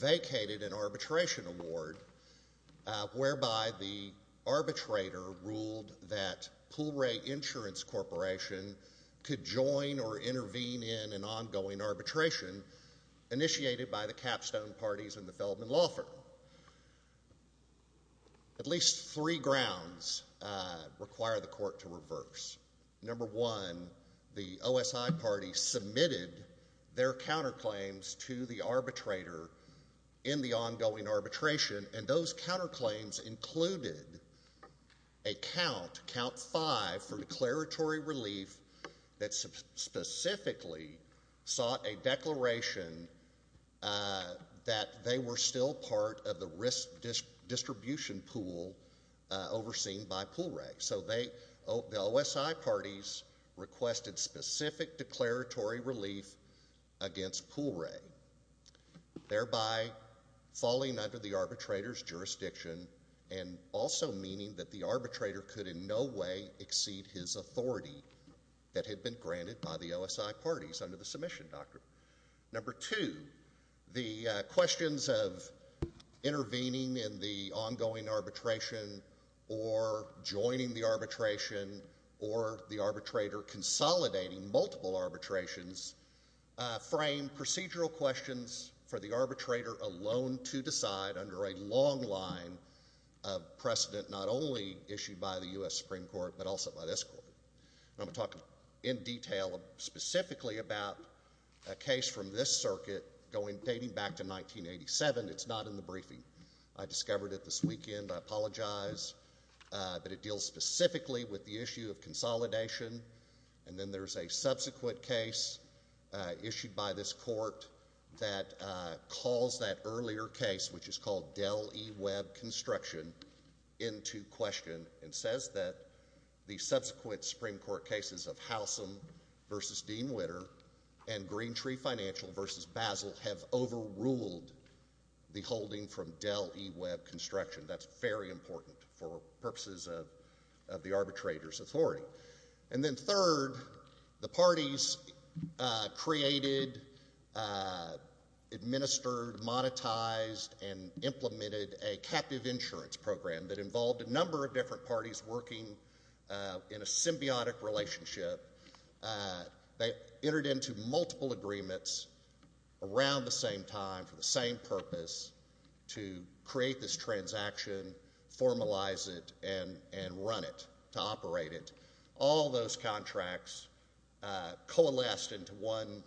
vacated an arbitration award whereby the arbitrator ruled that Pool Ray Insurance Corporation could join or intervene in an ongoing arbitration initiated by the capstone parties in the Feldman Law Firm. At least three grounds require the court to reverse. Number one, the OSI party submitted their counterclaims to the arbitrator in the ongoing arbitration and those counterclaims included a count, count five, for declaratory relief that specifically sought a declaration that they were still part of the risk distribution pool overseen by Pool Ray. So the OSI parties requested specific declaratory relief against Pool Ray, thereby falling under the arbitrator's jurisdiction and also meaning that the arbitrator could in no way exceed his authority that had been granted by the OSI parties under the submission doctrine. Number two, the questions of intervening in the ongoing arbitration or joining the arbitration or the arbitration of the arbitrator consolidating multiple arbitrations frame procedural questions for the arbitrator alone to decide under a long line of precedent not only issued by the U.S. Supreme Court but also by this court. I'm going to talk in detail specifically about a case from this circuit dating back to 1987. It's not in the briefing. I discovered it this weekend. I think it's in the briefing. And then there's a subsequent case issued by this court that calls that earlier case, which is called Dell E. Webb Construction, into question and says that the subsequent Supreme Court cases of Howsam v. Dean Witter and Green Tree Financial v. Basel have overruled the holding from Dell E. Webb Construction. That's very important for purposes of the arbitrator's authority. And then third, the parties created, administered, monetized, and implemented a captive insurance program that involved a number of different parties working in a symbiotic relationship. They entered into multiple agreements around the same time for the same purpose to create this transaction, formalize it, and run it to operate it. All those contracts coalesced into one,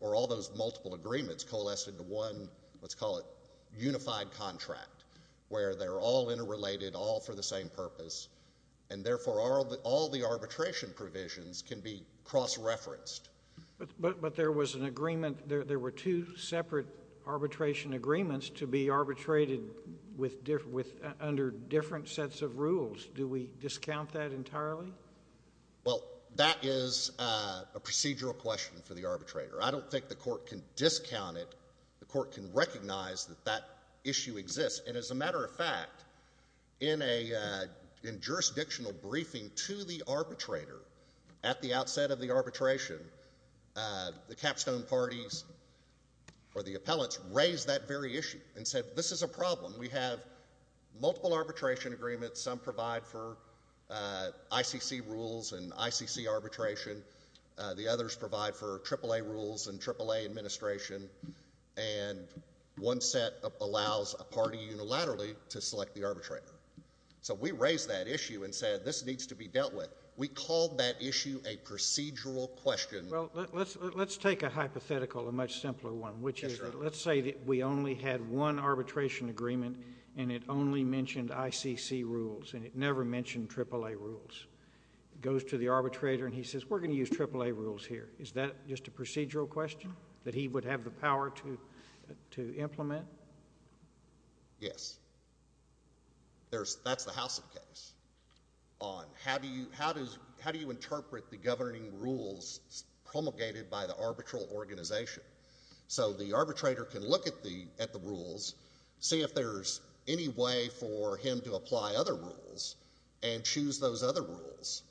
or all those multiple agreements coalesced into one, let's call it unified contract, where they're all interrelated, all for the same purpose, and therefore all the arbitration provisions can be cross-referenced. But there was an agreement, there were two separate arbitration agreements to be arbitrated under different sets of rules. Do we discount that entirely? Well, that is a procedural question for the arbitrator. I don't think the court can discount it. The court can recognize that that issue exists. And as a matter of fact, in a jurisdictional briefing to the arbitrator at the outset of the arbitration, the capstone parties, or the appellants, raised that very issue and said, this is a problem. We have multiple arbitration agreements, some provide for ICC rules and ICC arbitration, the others provide for AAA rules and AAA administration, and one set allows a party unilaterally to select the arbitrator. So we raised that issue and said, this needs to be dealt with. We called that issue a procedural question. Well, let's take a hypothetical, a much simpler one, which is that let's say that we only had one arbitration agreement and it only mentioned ICC rules and it never mentioned AAA rules. It goes to the arbitrator and he says, we're going to use AAA rules here. Is that just a procedural question that he would have the power to implement? Yes. That's the House's case on how do you interpret the governing rules promulgated by the arbitral organization? So the arbitrator can look at the rules, see if there's any way for him to apply other rules and choose those other rules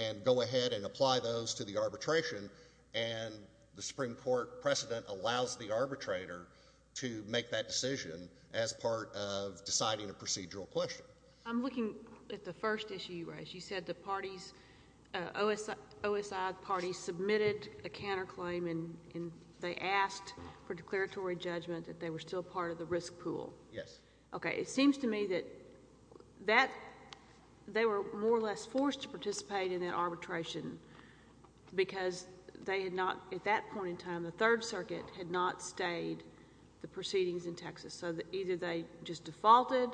and go ahead and apply those to the arbitration and the Supreme Court precedent allows the arbitrator to make that decision as part of deciding a procedural question. I'm looking at the first issue you raised. You said the parties, OSI parties submitted a counterclaim and they asked for declaratory judgment that they were still part of the risk pool. Yes. Okay. It seems to me that they were more or less forced to participate in that arbitration because they had not, at that point in time, the Third Circuit had not stayed the proceedings in Texas. So either they just defaulted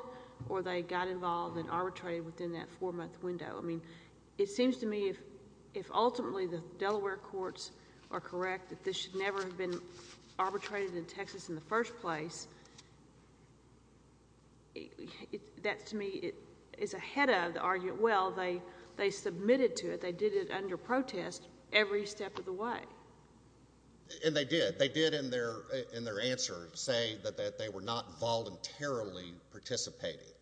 or they got involved and arbitrated within that four-month window. I mean, it seems to me if ultimately the Delaware courts are correct that this should never have been arbitrated in Texas in the first place, that to me is ahead of the argument. Well, they submitted to it. They did it under protest every step of the way. And they did. They did in their answer say that they were not voluntarily participating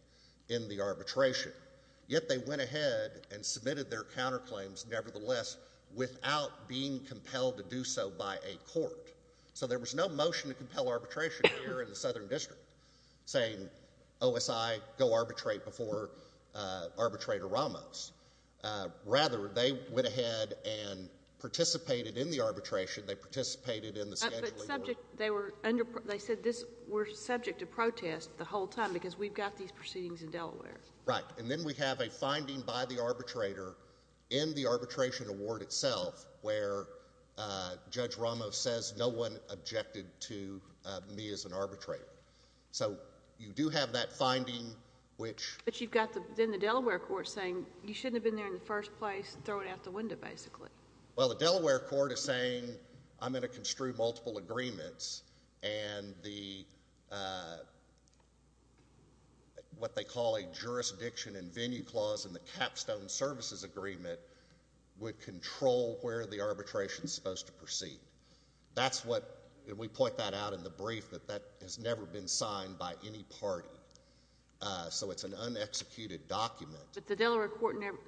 in the arbitration. Yet they went ahead and submitted their counterclaims nevertheless without being compelled to do so by a court. So there was no motion to compel arbitration here in the Southern District saying, OSI, go arbitrate before Arbitrator Ramos. Rather, they went ahead and participated in the arbitration. They participated in the scheduling. They said this, we're subject to protest the whole time because we've got these proceedings in Delaware. Right. And then we have a finding by the arbitrator in the arbitration award itself where Judge Ramos says no one objected to me as an arbitrator. So you do have that finding which But you've got then the Delaware court saying you shouldn't have been there in the first place, throw it out the window basically. Well, the Delaware court is saying I'm going to construe multiple agreements and the what they call a jurisdiction and venue clause in the capstone services agreement would control where the arbitration is supposed to proceed. That's what, we point that out in the brief that that has never been signed by any party. So it's an un-executed document. But the Delaware court never,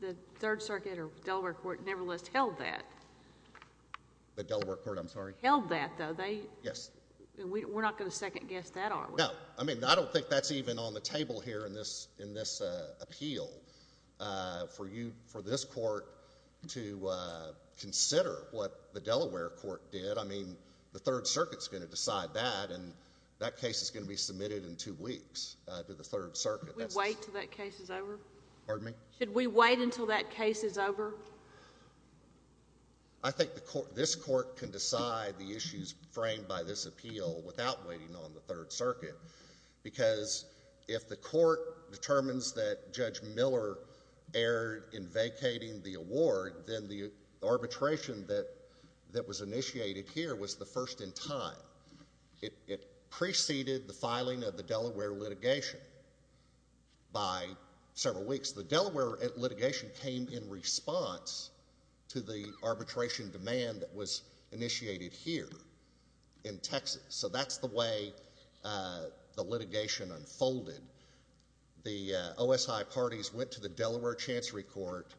the Third Circuit or Delaware court nevertheless held that. The Delaware court, I'm sorry. Held that though, they Yes. We're not going to second guess that are we? No. I mean, I don't think that's even on the table here in this, in this appeal for you, for this court to consider what the Delaware court did. I mean, the Third Circuit's going to decide that and that case is going to be submitted in two weeks to the Third Circuit. Should we wait until that case is over? Pardon me? Should we wait until that case is over? I think the court, this court can decide the issues framed by this appeal without waiting on the Third Circuit because if the court determines that Judge Miller erred in venue vacating the award, then the arbitration that, that was initiated here was the first in time. It, it preceded the filing of the Delaware litigation by several weeks. The Delaware litigation came in response to the arbitration demand that was initiated here in Texas. So that's the way the litigation unfolded. The OSI parties went to the Delaware Chancery Court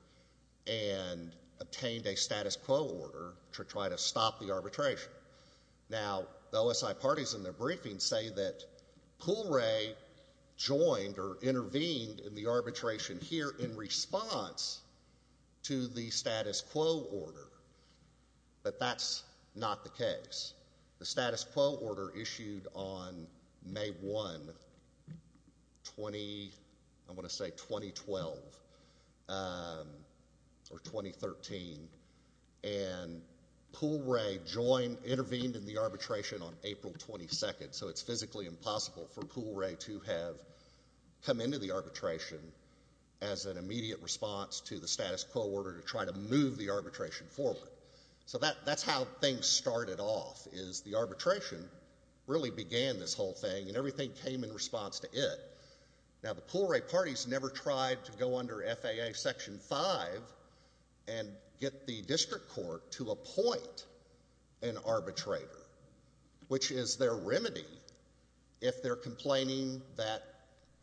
and obtained a status quo order to try to stop the arbitration. Now, the OSI parties in their briefing say that Poole Ray joined or intervened in the arbitration here in response to the status quo order, but that's not the case. The status quo order issued on May 1, 20, I'm going to say 2012, or 2013, and Poole Ray joined, intervened in the arbitration on April 22nd. So it's physically impossible for Poole Ray to have come into the arbitration as an immediate response to the status quo order to try to move the arbitration forward. So that, that's how things started off, is the arbitration really began this whole thing and everything came in response to it. Now, the Poole Ray parties never tried to go under FAA Section 5 and get the district court to appoint an arbitrator, which is their remedy if they're complaining that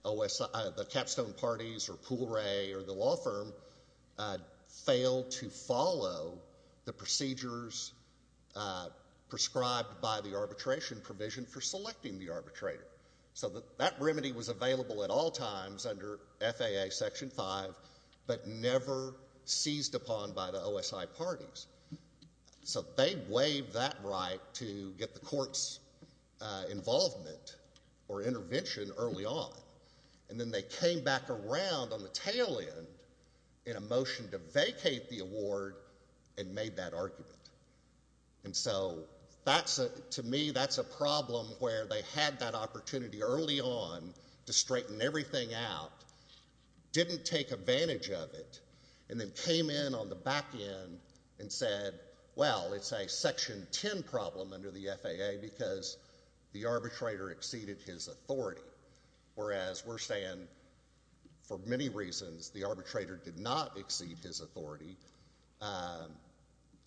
OSI, the capstone parties or Poole Ray or the law firm failed to follow the procedures prescribed by the arbitration provision for selecting the arbitrator. So that remedy was available at all times under FAA Section 5, but never seized upon by the OSI parties. So they waived that right to get the court's involvement or intervention early on, and then they came back around on the tail end in a motion to vacate the award and made that argument. And so that's a, to me that's a problem where they had that opportunity early on to straighten everything out, didn't take advantage of it, and then came in on the back end and said, well, it's a Section 10 problem under the FAA because the arbitrator exceeded his authority, whereas we're saying for many reasons the arbitrator did not exceed his authority.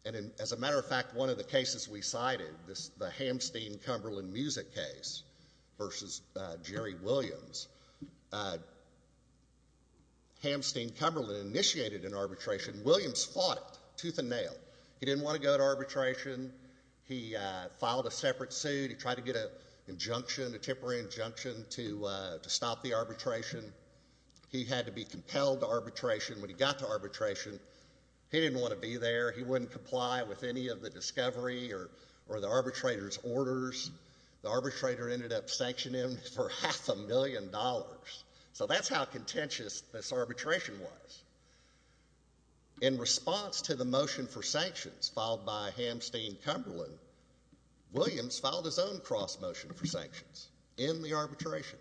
And as a matter of fact, one of the cases we cited, the Hamsteen Cumberland music case versus Jerry Williams, Hamsteen Cumberland initiated an arbitration. Williams fought it tooth and nail. He didn't want to go to arbitration. He filed a separate suit. He tried to get an injunction, a temporary injunction to stop the arbitration. He had to be compelled to arbitration. When he got to arbitration, he didn't want to be there. He wouldn't comply with any of the discovery or the arbitrator's orders. The arbitrator ended up sanctioning him for half a million dollars. So that's how contentious this arbitration was. In response to the motion for sanctions filed by Hamsteen Cumberland, Williams filed his own cross motion for sanctions in the arbitration,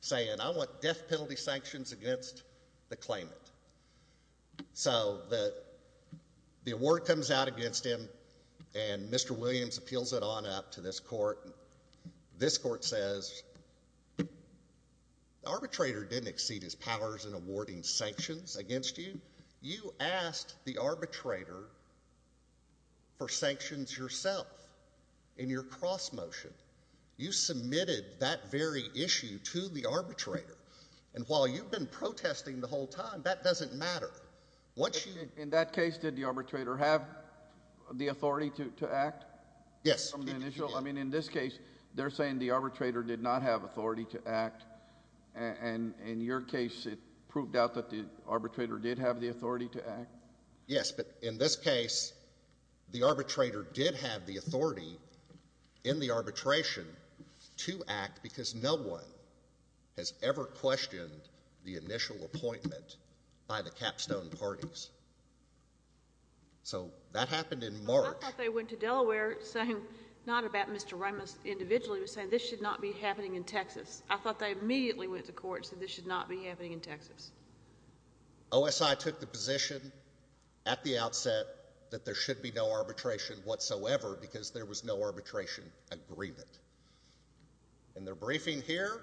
saying, I want death penalty sanctions against the claimant. So the award comes out against him, and Mr. Williams appeals it on up to this court. This court says, the arbitrator didn't exceed his powers in awarding sanctions against you. You asked the arbitrator for sanctions yourself in your cross motion you submitted that very issue to the arbitrator. And while you've been protesting the whole time, that doesn't matter. In that case, did the arbitrator have the authority to act? Yes. I mean, in this case, they're saying the arbitrator did not have authority to act. And in your case, it proved out that the arbitrator did have the authority to act? Yes, but in this case, the arbitrator did have the authority in the arbitration to act because no one has ever questioned the initial appointment by the capstone parties. So that happened in March. I thought they went to Delaware saying, not about Mr. Ramos individually, but saying this should not be happening in Texas. I thought they immediately went to court and said this should not be happening in Texas. OSI took the position at the outset that there should be no arbitration whatsoever because there was no arbitration agreement. In their briefing here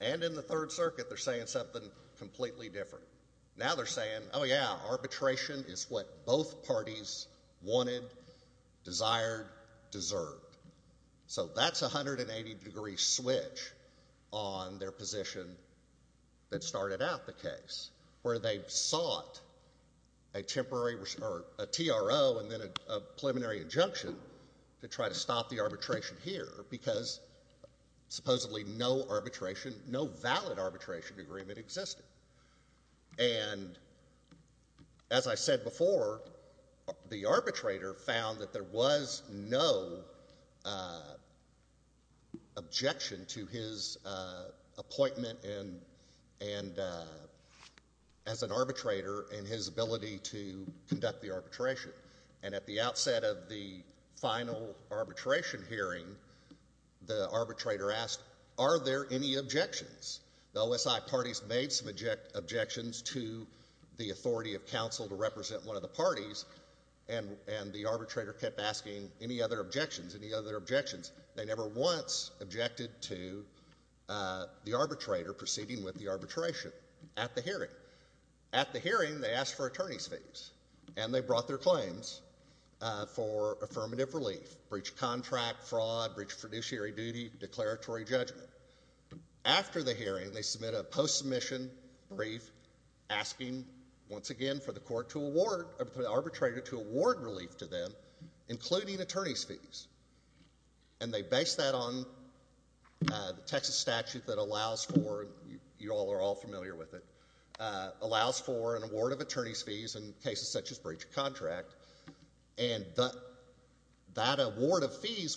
and in the third circuit, they're saying something completely different. Now they're saying, oh yeah, arbitration is what both parties wanted, desired, deserved. So that's a 180-degree switch on their position that started out the case, where they sought a temporary or a TRO and then a preliminary injunction to try to stop the arbitration here because supposedly no arbitration, no valid arbitration agreement existed. And as I said before, the arbitrator found that there was no objection to his appointment as an arbitrator and his ability to conduct the arbitration. And at the outset of the final arbitration hearing, the arbitrator asked, are there any objections? The OSI parties made some objections to the authority of counsel to represent one of the parties, and the arbitrator kept asking any other objections, any other objections. They never once objected to the arbitrator proceeding with the arbitration at the hearing. At the hearing, they asked for attorney's fees, and they brought their claims for affirmative relief, breached contract, fraud, breached fiduciary duty, declaratory judgment. After the hearing, they submit a post-submission brief asking, once again, for the court to award, for the arbitrator to award relief to them, including attorney's fees. And they based that on the Texas statute that allows for, you all are all familiar with it, allows for an award of attorney's fees,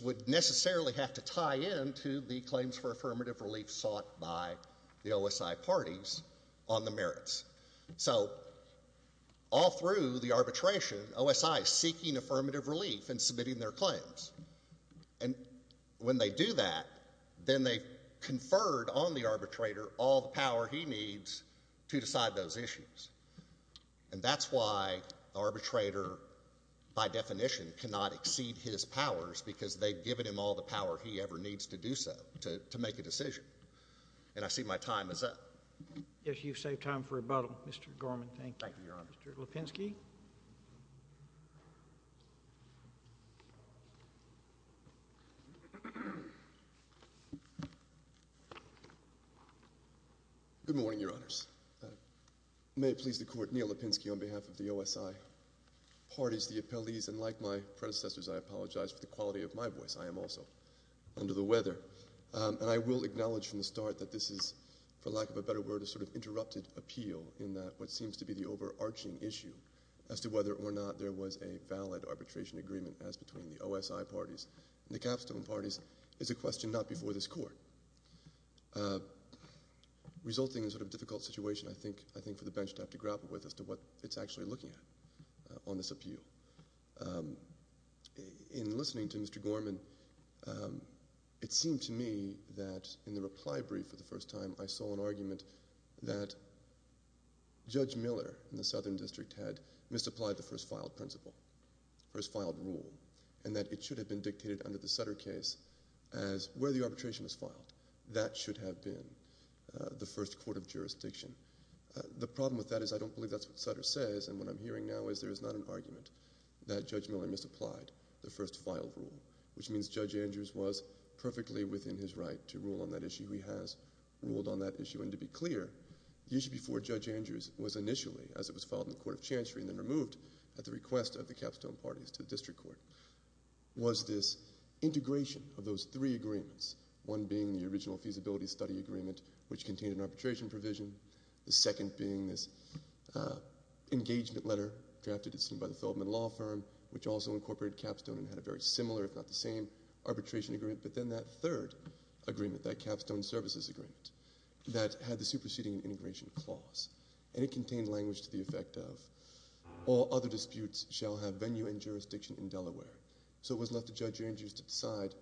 would necessarily have to tie into the claims for affirmative relief sought by the OSI parties on the merits. So, all through the arbitration, OSI is seeking affirmative relief and submitting their claims. And when they do that, then they conferred on the arbitrator all the power he needs to decide those issues. And that's why the arbitrator, by definition, cannot exceed his powers, because they've given him all the power he ever needs to do so, to make a decision. And I see my time is up. Yes, you've saved time for rebuttal, Mr. Gorman. Thank you. Thank you, Your Honor. Mr. Lipinski? Good morning, Your Honors. May it please the Court, Neil Lipinski, on behalf of the OSI parties, the appellees, and like my predecessors, I apologize for the quality of my voice. I am also under the weather. And I will acknowledge from the start that this is, for lack of a better word, a sort of interrupted appeal in what seems to be the overarching issue as to whether or not there was a valid arbitration agreement as between the OSI parties and the capstone parties is a question not before this Court. Resulting in a sort of difficult situation, I think, for the bench to have to grapple with as to what it's actually looking at on this appeal. In listening to Mr. Gorman, it seemed to me that in the reply brief for the first time, I saw an argument that Judge Miller in the Southern District had misapplied the first filed principle, first filed rule, and that it should have been dictated under the Sutter case as where the arbitration was filed. That should have been the first court of jurisdiction. The problem with that is I don't believe that's what Sutter says, and what I'm hearing now is there is not an argument that Judge Miller misapplied the first filed rule, which means Judge Andrews was perfectly within his right to rule on that issue. He has ruled on that issue. And to be clear, the issue before Judge Andrews was initially, as it was filed in the Court of Chancery and then removed at the request of the capstone parties to the District Court, was this integration of those three agreements, one being the original feasibility study agreement, which contained an arbitration provision, the second being this engagement letter drafted by the Feldman Law Firm, which also incorporated capstone and had a very similar, if not the same, arbitration agreement, but then that third agreement, that capstone services agreement, that had the superseding and integration clause. And it contained language to the effect of, all other disputes shall have venue and jurisdiction in Delaware. So it was left to Judge Andrews to decide,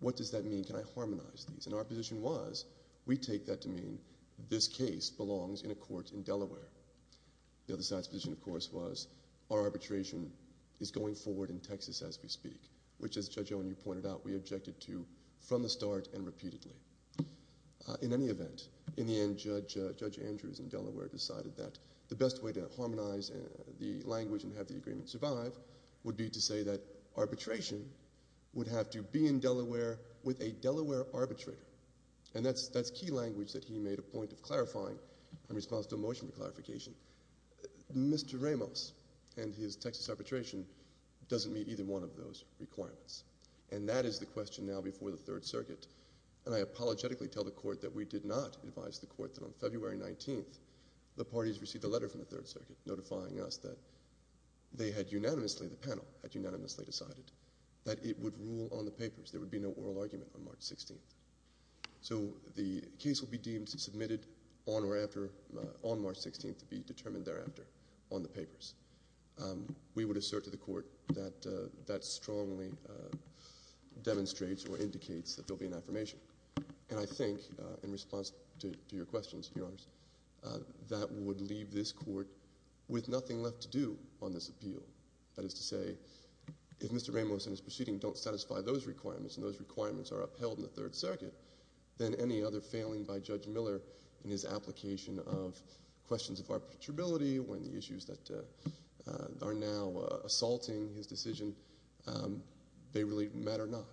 what does that mean? Can I harmonize these? And our position was, we take that to mean, this case belongs in a court in Delaware. The other side's position, of course, was, our arbitration is going forward in Texas as we speak, which as Judge Owen, you pointed out, we objected to from the start and repeatedly. In any event, in the end, Judge Andrews in Delaware decided that the best way to harmonize the language and have the agreement survive would be to say that arbitration would have to be in Delaware with a Delaware arbitrator. And that's key language that he made a point of clarifying in response to a motion for clarification. Mr. Ramos and his Texas arbitration doesn't meet either one of those requirements. And that is the question now before the Third Circuit. And I apologetically tell the Court that we did not advise the Court that on February 19th, the parties received a letter from the Third Circuit notifying us that they had unanimously, the panel, had unanimously decided that it would rule on the papers. There would be no oral argument on March 16th. So the case will be deemed, submitted on or after, on March 16th to be determined thereafter on the papers. We would assert to the Court that that strongly demonstrates or indicates that there'll be an affirmation. And I think, in response to your questions, Your Honors, that would leave this Court with nothing left to do on this case but to say, if Mr. Ramos and his proceeding don't satisfy those requirements and those requirements are upheld in the Third Circuit, then any other failing by Judge Miller in his application of questions of arbitrability when the issues that are now assaulting his decision, they really matter not.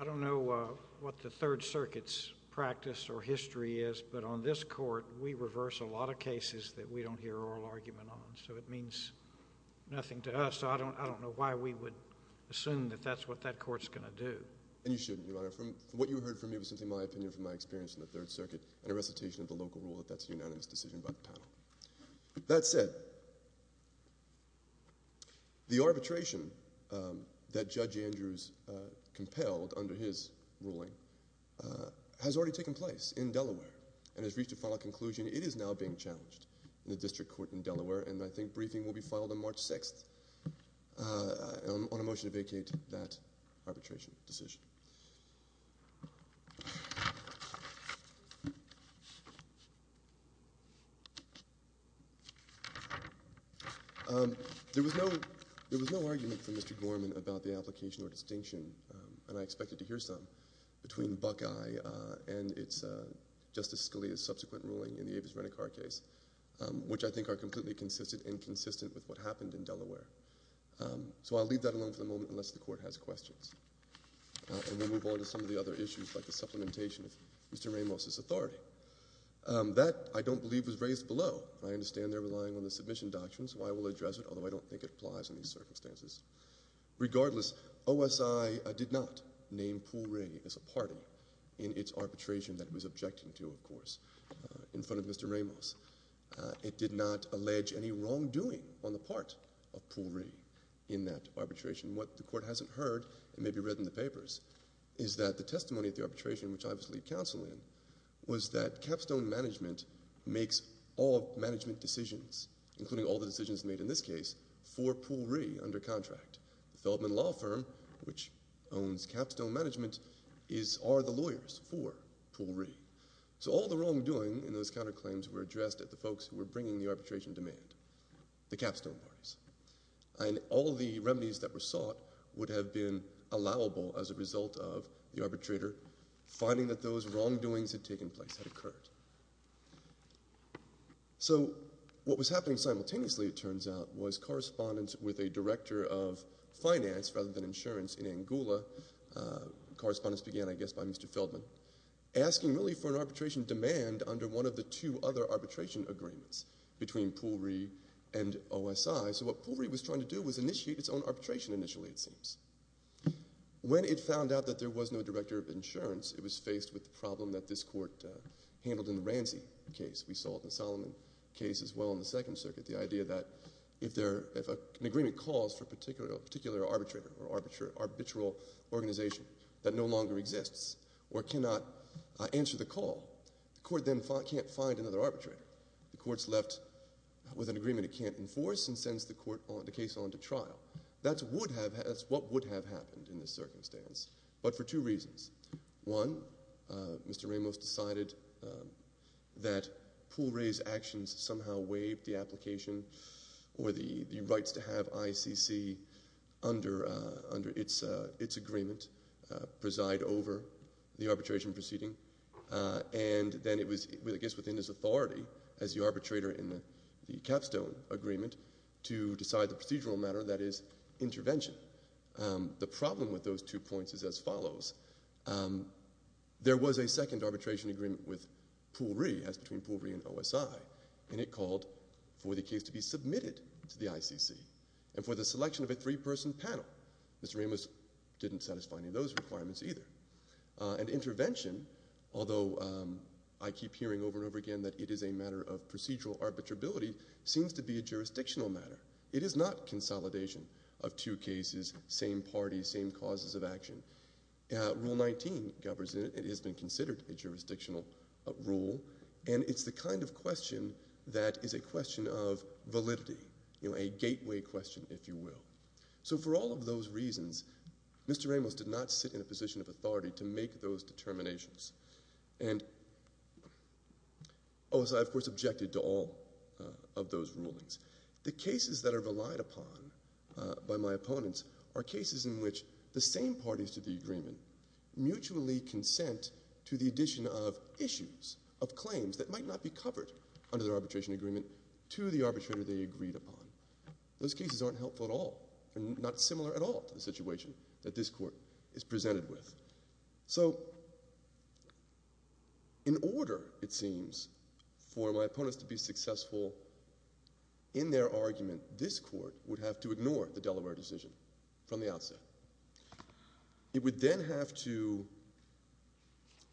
I don't know what the Third Circuit's practice or history is, but on this Court, we reverse a lot of cases that we don't hear oral argument on, so it means nothing to us. So I don't know why we would assume that that's what that Court's going to do. And you shouldn't, Your Honor. From what you heard from me, it was simply my opinion from my experience in the Third Circuit and a recitation of the local rule that that's a unanimous decision by the panel. That said, the arbitration that Judge Andrews compelled under his ruling has already taken place in Delaware and has reached a final conclusion. It is now being challenged in the District Court in Delaware, and I think briefing will be filed on March 6th on a motion to vacate that arbitration decision. There was no argument from Mr. Gorman about the application or distinction, and I expected to hear some, between Buckeye and Justice Scalia's subsequent ruling in the Avis Renicar case, which I think are completely consistent and consistent with what happened in Delaware. So I'll leave that alone for the moment unless the Court has questions. And we'll move on to some of the other issues, like the supplementation of Mr. Ramos's authority. That, I don't believe, was raised below. I understand they're relying on the submission doctrine, so I will address it, although I don't think it applies in these circumstances. Regardless, OSI did not name Poole Ray as a party in its arbitration that it was objecting to, of course, in front of Mr. Ramos. It did not allege any wrongdoing on the part of Poole Ray in that arbitration. What the Court hasn't heard, and maybe read in the papers, is that the testimony of the arbitration, which I was lead counsel in, was that capstone management makes all management decisions, including all the decisions made in this case, for Poole Ray under contract. The Feldman Law Firm, which owns capstone management, are the lawyers for Poole Ray. So all the wrongdoing in those counterclaims were addressed at the folks who were bringing the arbitration demand, the capstone parties. And all the remedies that were sought would have been allowable as a result of the arbitrator finding that those wrongdoings had taken place, had occurred. So what was happening simultaneously, it turns out, was correspondence with a director of finance rather than insurance in Angola. Correspondence began, I guess, by Mr. Feldman, asking really for an arbitration demand under one of the two other arbitration agreements between Poole Ray and OSI. So what Poole Ray was trying to do was initiate its own arbitration initially, it seems. When it found out that there was no director of insurance, it was faced with the problem that this court handled in the Ranzi case. We saw it in the Solomon case as well in the Second Circuit, the idea that if an agreement calls for a particular arbitrator or arbitral organization that no longer exists or cannot answer the call, the court then can't find another arbitrator. The court's left with an agreement it can't enforce and sends the case on to trial. That's what would have happened in this circumstance, but for two reasons. One, Mr. Ramos decided that Poole Ray's actions somehow waived the application or the rights to have ICC under its agreement preside over the arbitration proceeding, and then it was, I guess, within its authority as the arbitrator in the capstone agreement to decide the procedural matter, that is, intervention. The problem with those two points is as follows. There was a second arbitration agreement with Poole Ray, it was between Poole Ray and OSI, and it called for the case to be submitted to the ICC and for the selection of a three-person panel. Mr. Ramos didn't satisfy any of those requirements either. And intervention, although I keep hearing over and over again that it is a matter of procedural arbitrability, seems to be a jurisdictional matter. It is not consolidation of two cases, same parties, same causes of action. Rule 19 governs it. It has been considered a jurisdictional rule, and it's the kind of question that is a question of validity, a gateway question, if you will. So for all of those reasons, Mr. Ramos did not sit in a position of authority to make those determinations. And OSI, of course, objected to all of those rulings. The cases that are relied upon by my opponents are cases in which the same parties to the agreement mutually consent to the addition of issues, of claims that might not be covered under their arbitration agreement to the arbitrator they agreed upon. Those cases aren't helpful at all, and not similar at all to the situation that this Court is presented with. So in order, it seems, for my opponents to be successful in their argument, this Court would have to ignore the Delaware decision from the outset. It would then have to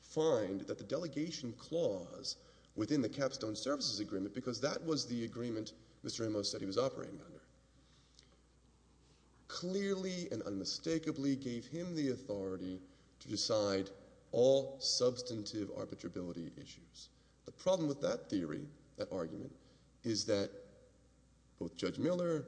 find that the delegation clause within the Capstone Services Agreement, because that was the agreement Mr. Ramos said he was operating under, clearly and unmistakably gave him the authority to decide all substantive arbitrability issues. The problem with that theory, that argument, is that both Judge Miller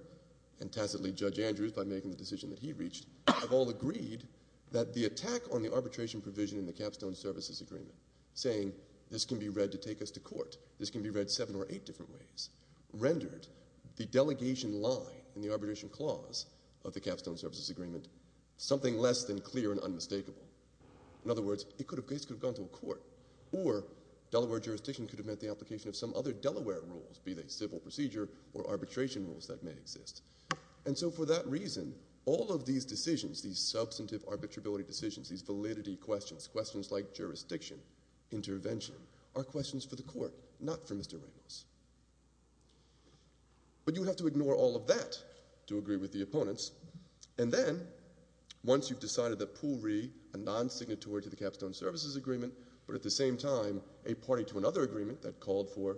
and tacitly Judge Andrews, by making the decision that he reached, have all agreed that the attack on the arbitration provision in the Capstone Services Agreement, saying this can be read to take us to court, this can be read seven or eight different ways, rendered the delegation line in the arbitration clause of the Capstone Services Agreement something less than clear and unmistakable. In other words, it could have just gone to a court, or Delaware jurisdiction could have met the application of some other Delaware rules, be they civil procedure or arbitration rules that may exist. And so for that reason, all of these decisions, these substantive arbitrability decisions, these validity questions, questions like jurisdiction, intervention, are questions for the court, not for Mr. Ramos. But you have to ignore all of that to agree with the opponents. And then, once you've decided that Poole Ree, a non-signatory to the Capstone Services Agreement, but at the same time a party to another agreement that called for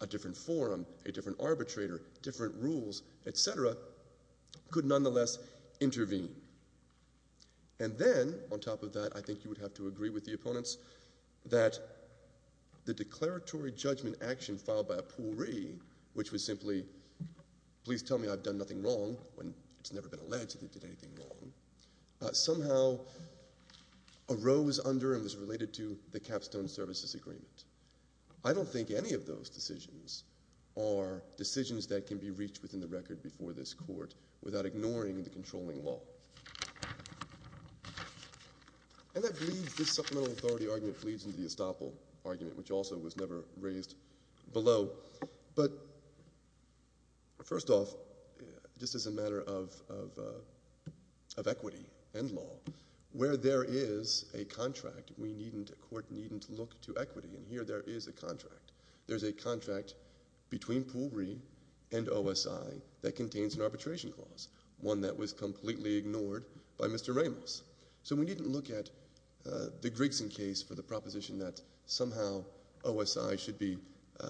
a different forum, a different arbitrator, different rules, etc., could nonetheless intervene. And then, on top of that, I think you would have to agree with the opponents that the declaratory judgment action filed by Poole Ree, which was simply, please tell me I've done nothing wrong, when it's never been alleged that they did anything wrong, somehow arose under and was related to the Capstone Services Agreement. I don't think any of those decisions are decisions that can be reached within the record before this court without ignoring the controlling law. And I believe this supplemental authority argument leads into the estoppel argument, which also was never raised below. But first off, just as a matter of equity and law, where there is a contract, a court needn't look to equity. And here there is a contract. There's a contract between Poole Ree and OSI that contains an arbitration clause, one that was completely ignored by Mr. Ramos. So we needn't look at the Grigson case for the proposition that somehow OSI should be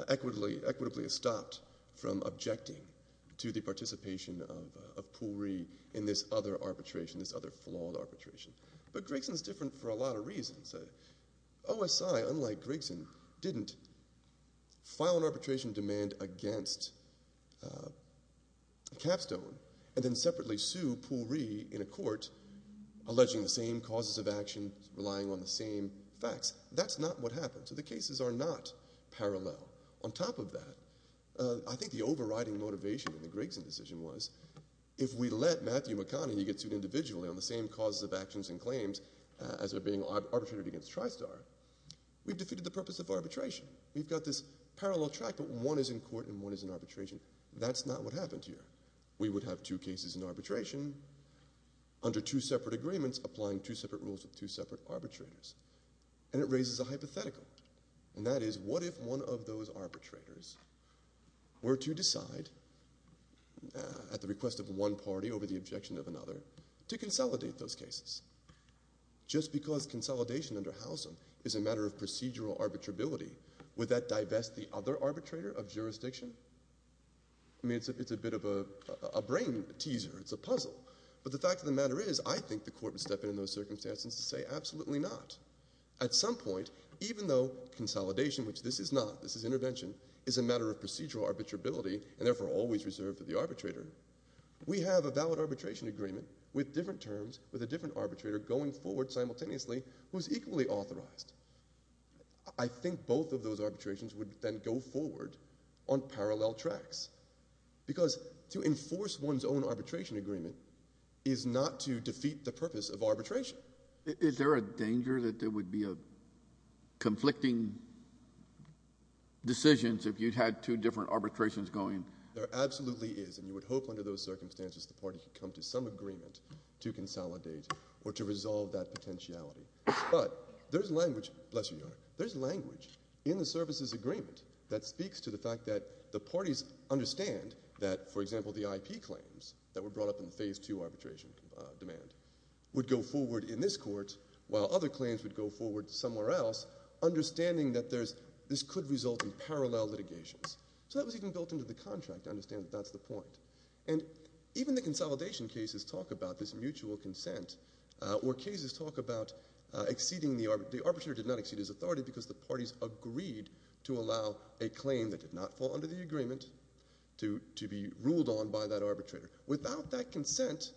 equitably estopped from objecting to the participation of Poole Ree in this other arbitration, this other flawed arbitration. But Grigson's different for a lot of reasons. OSI, unlike Grigson, didn't file an arbitration demand against Capstone and then separately sue Poole in a court alleging the same causes of action, relying on the same facts. That's not what happened. So the cases are not parallel. On top of that, I think the overriding motivation in the Grigson decision was if we let Matthew McConaughey get sued individually on the same causes of actions and claims as they're being arbitrated against Tristar, we've defeated the purpose of arbitration. We've got this parallel track, but one is in court and one is in arbitration. That's not what happened here. We would have two cases in arbitration under two separate agreements, applying two separate rules with two separate arbitrators. And it raises a hypothetical. And that is, what if one of those arbitrators were to decide at the request of one party over the objection of another to consolidate those cases? Just because consolidation under Halcyon is a matter of procedural arbitrability, would that divest the other arbitrator of jurisdiction? I mean, it's a bit of a brain teaser. It's a puzzle. But the fact of the matter is, I think the court would step in in those circumstances to say, absolutely not. At some point, even though consolidation, which this is not, this is intervention, is a matter of procedural arbitrability and therefore always reserved for the arbitrator, we have a valid arbitration agreement with different terms, with a different arbitrator going forward simultaneously who is equally authorized. I think both of those arbitrations would then go forward on parallel tracks. Because to enforce one's own arbitration agreement is not to defeat the purpose of arbitration. Is there a danger that there would be conflicting decisions if you had two different arbitrations going? There absolutely is. And you would hope under those circumstances the party could come to some agreement to consolidate or to resolve that potentiality. But there's language, there's language in the services agreement that speaks to the fact that the parties understand that, for example, the IP claims that were brought up in the phase two arbitration demand would go forward in this court, while other claims would go forward somewhere else, understanding that this could result in parallel litigations. So that was even built into the contract to understand that that's the point. And even the consolidation cases talk about this because the parties agreed to allow a claim that did not fall under the agreement to be ruled on by that arbitrator. Without that consent,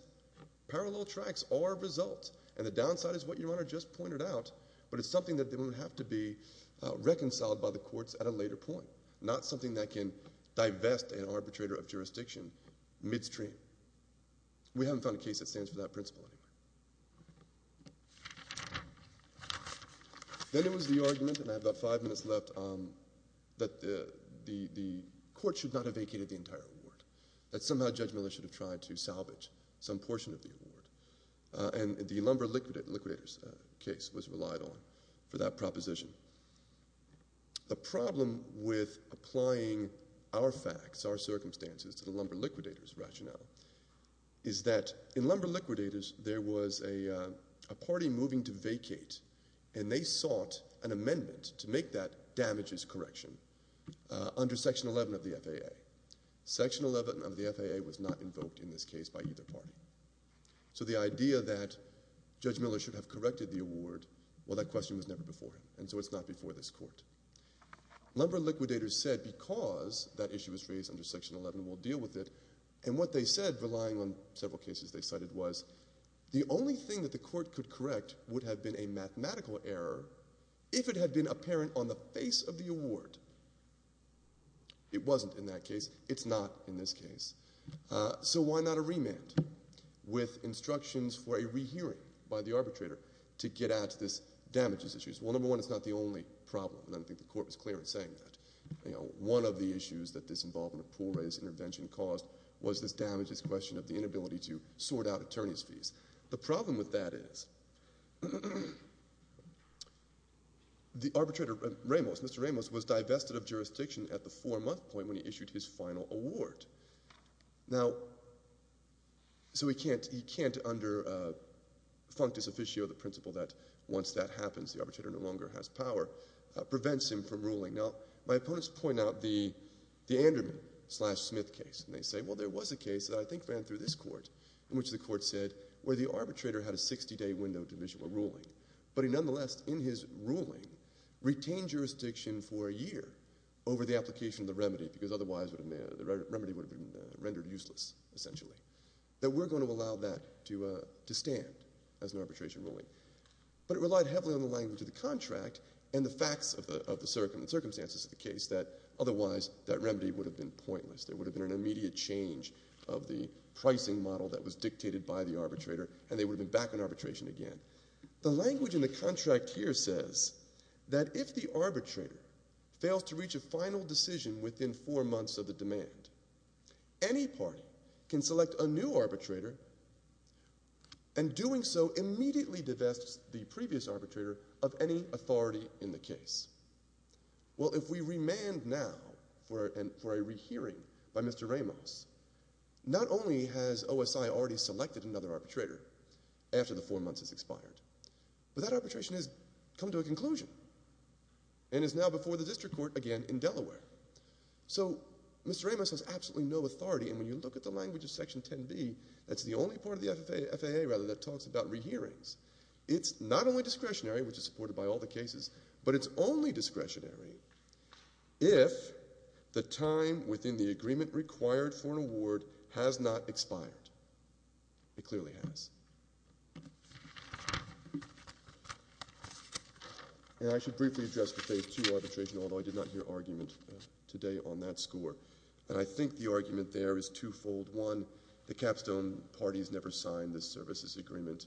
parallel tracks are a result. And the downside is what your Honor just pointed out, but it's something that would have to be reconciled by the courts at a later point. Not something that can divest an arbitrator of jurisdiction midstream. We haven't a case that stands for that principle anymore. Then there was the argument, and I have about five minutes left, that the court should not have vacated the entire award. That somehow Judge Miller should have tried to salvage some portion of the award. And the lumber liquidators case was relied on for that proposition. The problem with applying our facts, our circumstances, to the lumber liquidators rationale, is that in lumber liquidators there was a party moving to vacate, and they sought an amendment to make that damages correction under Section 11 of the FAA. Section 11 of the FAA was not invoked in this case by either party. So the idea that Judge Miller should have corrected the award, well that question was never before him, and so it's not we'll deal with it. And what they said, relying on several cases they cited, was the only thing that the court could correct would have been a mathematical error if it had been apparent on the face of the award. It wasn't in that case. It's not in this case. So why not a remand with instructions for a rehearing by the arbitrator to get at this damages issue? Well, number one, it's not the only problem, and I don't think the court was clear in saying that. You know, one of the issues that this involvement of Pool Ray's intervention caused was this damages question of the inability to sort out attorney's fees. The problem with that is the arbitrator, Ramos, Mr. Ramos, was divested of jurisdiction at the four-month point when he issued his final award. Now, so he can't under functus officio, the principle that once that happens, the arbitrator no longer has power, prevents him from ruling. Now, my opponents point out the Anderman-Smith case, and they say, well, there was a case that I think ran through this court in which the court said where the arbitrator had a 60-day window division of ruling, but he nonetheless, in his ruling, retained jurisdiction for a year over the application of the remedy because otherwise the remedy would have been rendered useless, essentially, that we're going to allow that to stand as an arbitration ruling. But it relied heavily on the language of the contract and the facts of the circumstances of the case that otherwise that remedy would have been pointless. There would have been an immediate change of the pricing model that was dictated by the arbitrator, and they would have been back on arbitration again. The language in the contract here says that if the arbitrator fails to reach a final decision within four months of the demand, any party can select a new arbitrator, and doing so immediately divests the previous arbitrator of any authority in the case. Well, if we remand now for a rehearing by Mr. Ramos, not only has OSI already selected another arbitrator after the four months has expired, but that arbitration has come to a conclusion and is now before the district court again in Delaware. So Mr. Ramos has absolutely no authority, and when you look at the language of Section 10b, that's the only part of the FAA, rather, that talks about rehearings. It's not only discretionary, which is supported by all the cases, but it's only discretionary if the time within the agreement required for an award has not expired. It clearly has. And I should briefly address the phase two arbitration, although I did not hear argument today on that score, and I think the argument there is twofold. One, the capstone parties never signed this services agreement.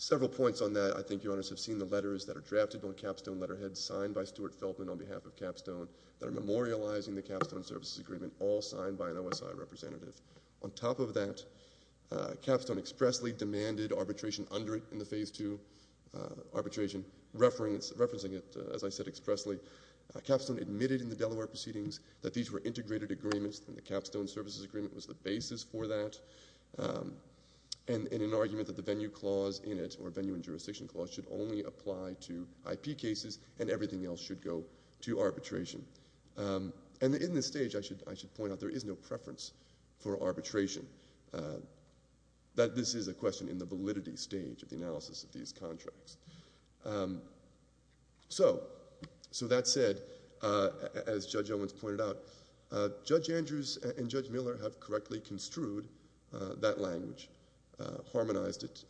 Several points on that. I think your honors have seen the letters that are drafted on capstone letterheads signed by Stuart Feldman on behalf of capstone that are representative. On top of that, capstone expressly demanded arbitration under it in the phase two arbitration, referencing it, as I said, expressly. Capstone admitted in the Delaware proceedings that these were integrated agreements and the capstone services agreement was the basis for that and an argument that the venue clause in it, or venue and jurisdiction clause, should only apply to IP cases and everything else should go to arbitration. And in this stage, I should point out, there is no preference for arbitration. This is a question in the validity stage of the analysis of these contracts. So that said, as Judge Owens pointed out, Judge Andrews and Judge Miller have correctly construed that language, harmonized it.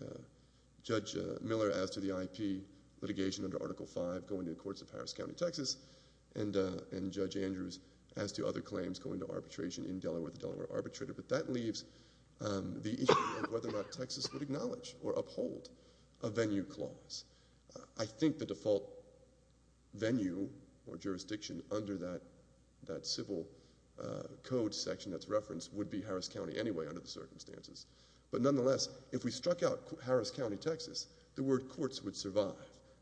Judge Miller asked to the IP litigation under Article V going to the courts of Harris County, Texas, and Judge Andrews asked to other claims go into arbitration in Delaware, the Delaware arbitrator, but that leaves the issue of whether or not Texas would acknowledge or uphold a venue clause. I think the default venue or jurisdiction under that civil code section that's referenced would be Harris County anyway under the circumstances, but nonetheless, if we struck out Harris County, Texas, the word courts would survive,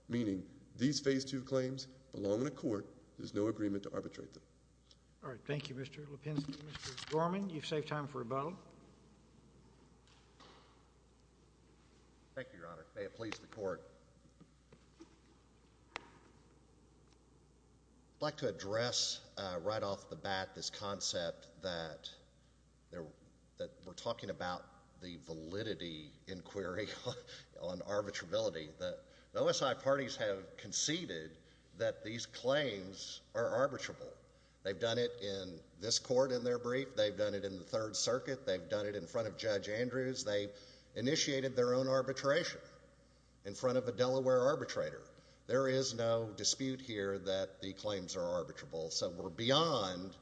meaning these phase two claims belong in a court. There's no agreement to arbitrate them. All right. Thank you, Mr. Lipinski. Mr. Dorman, you've saved time for a bow. Thank you, Your Honor. May it please the Court. I'd like to address right off the bat this concept that we're talking about the validity inquiry on arbitrability. The OSI parties have conceded that these claims are arbitrable. They've done it in this court in their brief. They've done it in the Third Circuit. They've done it in front of Judge Andrews. They initiated their own arbitration in front of a Delaware arbitrator. There is no dispute here that the claims are arbitrable, so we're beyond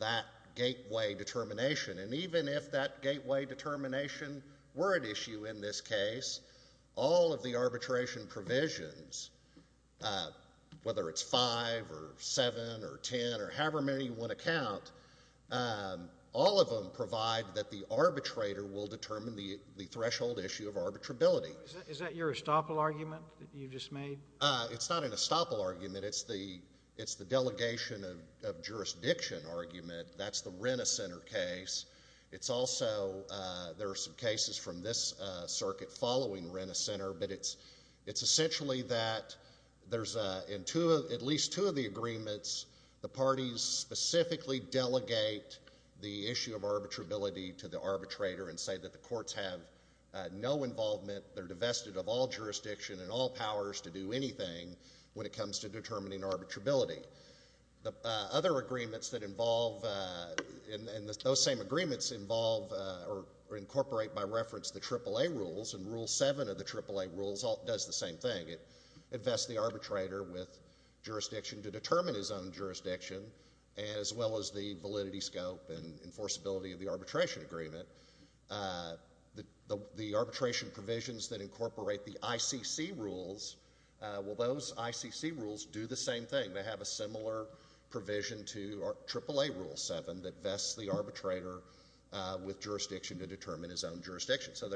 that gateway determination, and even if that gateway determination were at issue in this case, all of the arbitration provisions, whether it's five or seven or ten or however many you want to count, all of them provide that the arbitrator will determine the threshold issue of arbitrability. Is that your estoppel argument that you just made? It's not an estoppel argument. It's the delegation of jurisdiction argument. That's the Rena Center case. There are some cases from this circuit following Rena Center, but it's essentially that there's at least two of the agreements, the parties specifically delegate the issue of arbitrability to the arbitrator and say that the courts have no involvement. They're divested of all jurisdiction and all powers to do anything when it comes to determining arbitrability. The other agreements that involve, and those same agreements involve or incorporate by reference the AAA rules, and Rule 7 of the AAA rules does the same thing. It vests the arbitrator with jurisdiction to determine his own jurisdiction as well as the validity scope and enforceability of the arbitration agreement. The arbitration provisions that incorporate the ICC rules, well, those ICC rules do the same thing. They have a similar provision to AAA Rule 7 that vests the arbitrator with jurisdiction to determine his own jurisdiction. So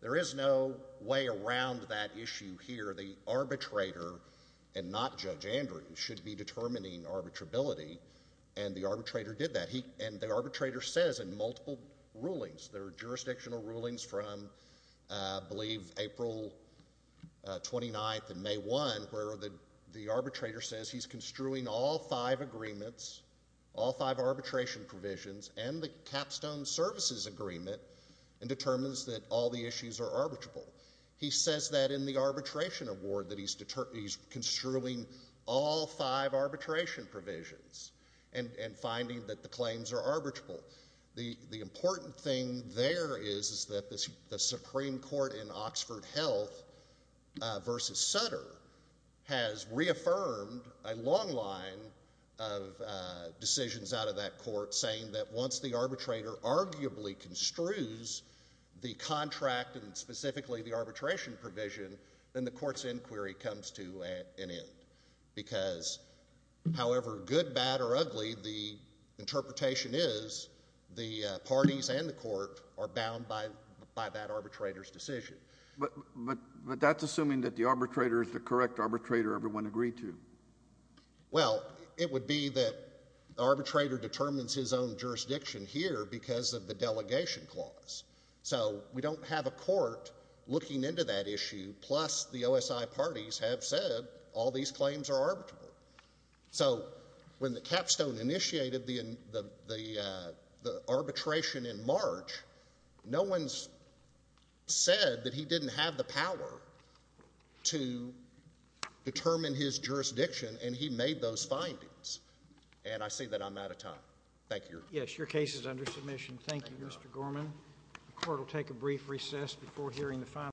there is no way around that issue here. The arbitrator and not Judge Andrew should be determining arbitrability, and the arbitrator did that. And the arbitrator says in multiple rulings, there are jurisdictional rules, April 29th and May 1, where the arbitrator says he's construing all five agreements, all five arbitration provisions, and the capstone services agreement, and determines that all the issues are arbitrable. He says that in the arbitration award that he's construing all five arbitration provisions and finding that the claims are arbitrable. The important thing there is that the Supreme Court in Oxford Health v. Sutter has reaffirmed a long line of decisions out of that court saying that once the arbitrator arguably construes the contract and specifically the arbitration provision, then the court's inquiry comes to an end. Because however good, bad, or ugly the interpretation is, the parties and the court are bound by that arbitrator's decision. But that's assuming that the arbitrator is the correct arbitrator everyone agreed to. Well, it would be that the arbitrator determines his own jurisdiction here because of the delegation clause. So we don't have a court looking into that issue, plus the OSI parties have said all these claims are arbitrable. So when the capstone initiated the arbitration in March, no one's said that he didn't have the power to determine his jurisdiction and he made those findings. And I see that I'm out of time. Thank you. Yes, your case is under submission. Thank you, Mr. Gorman. The court will take a brief recess before hearing the final.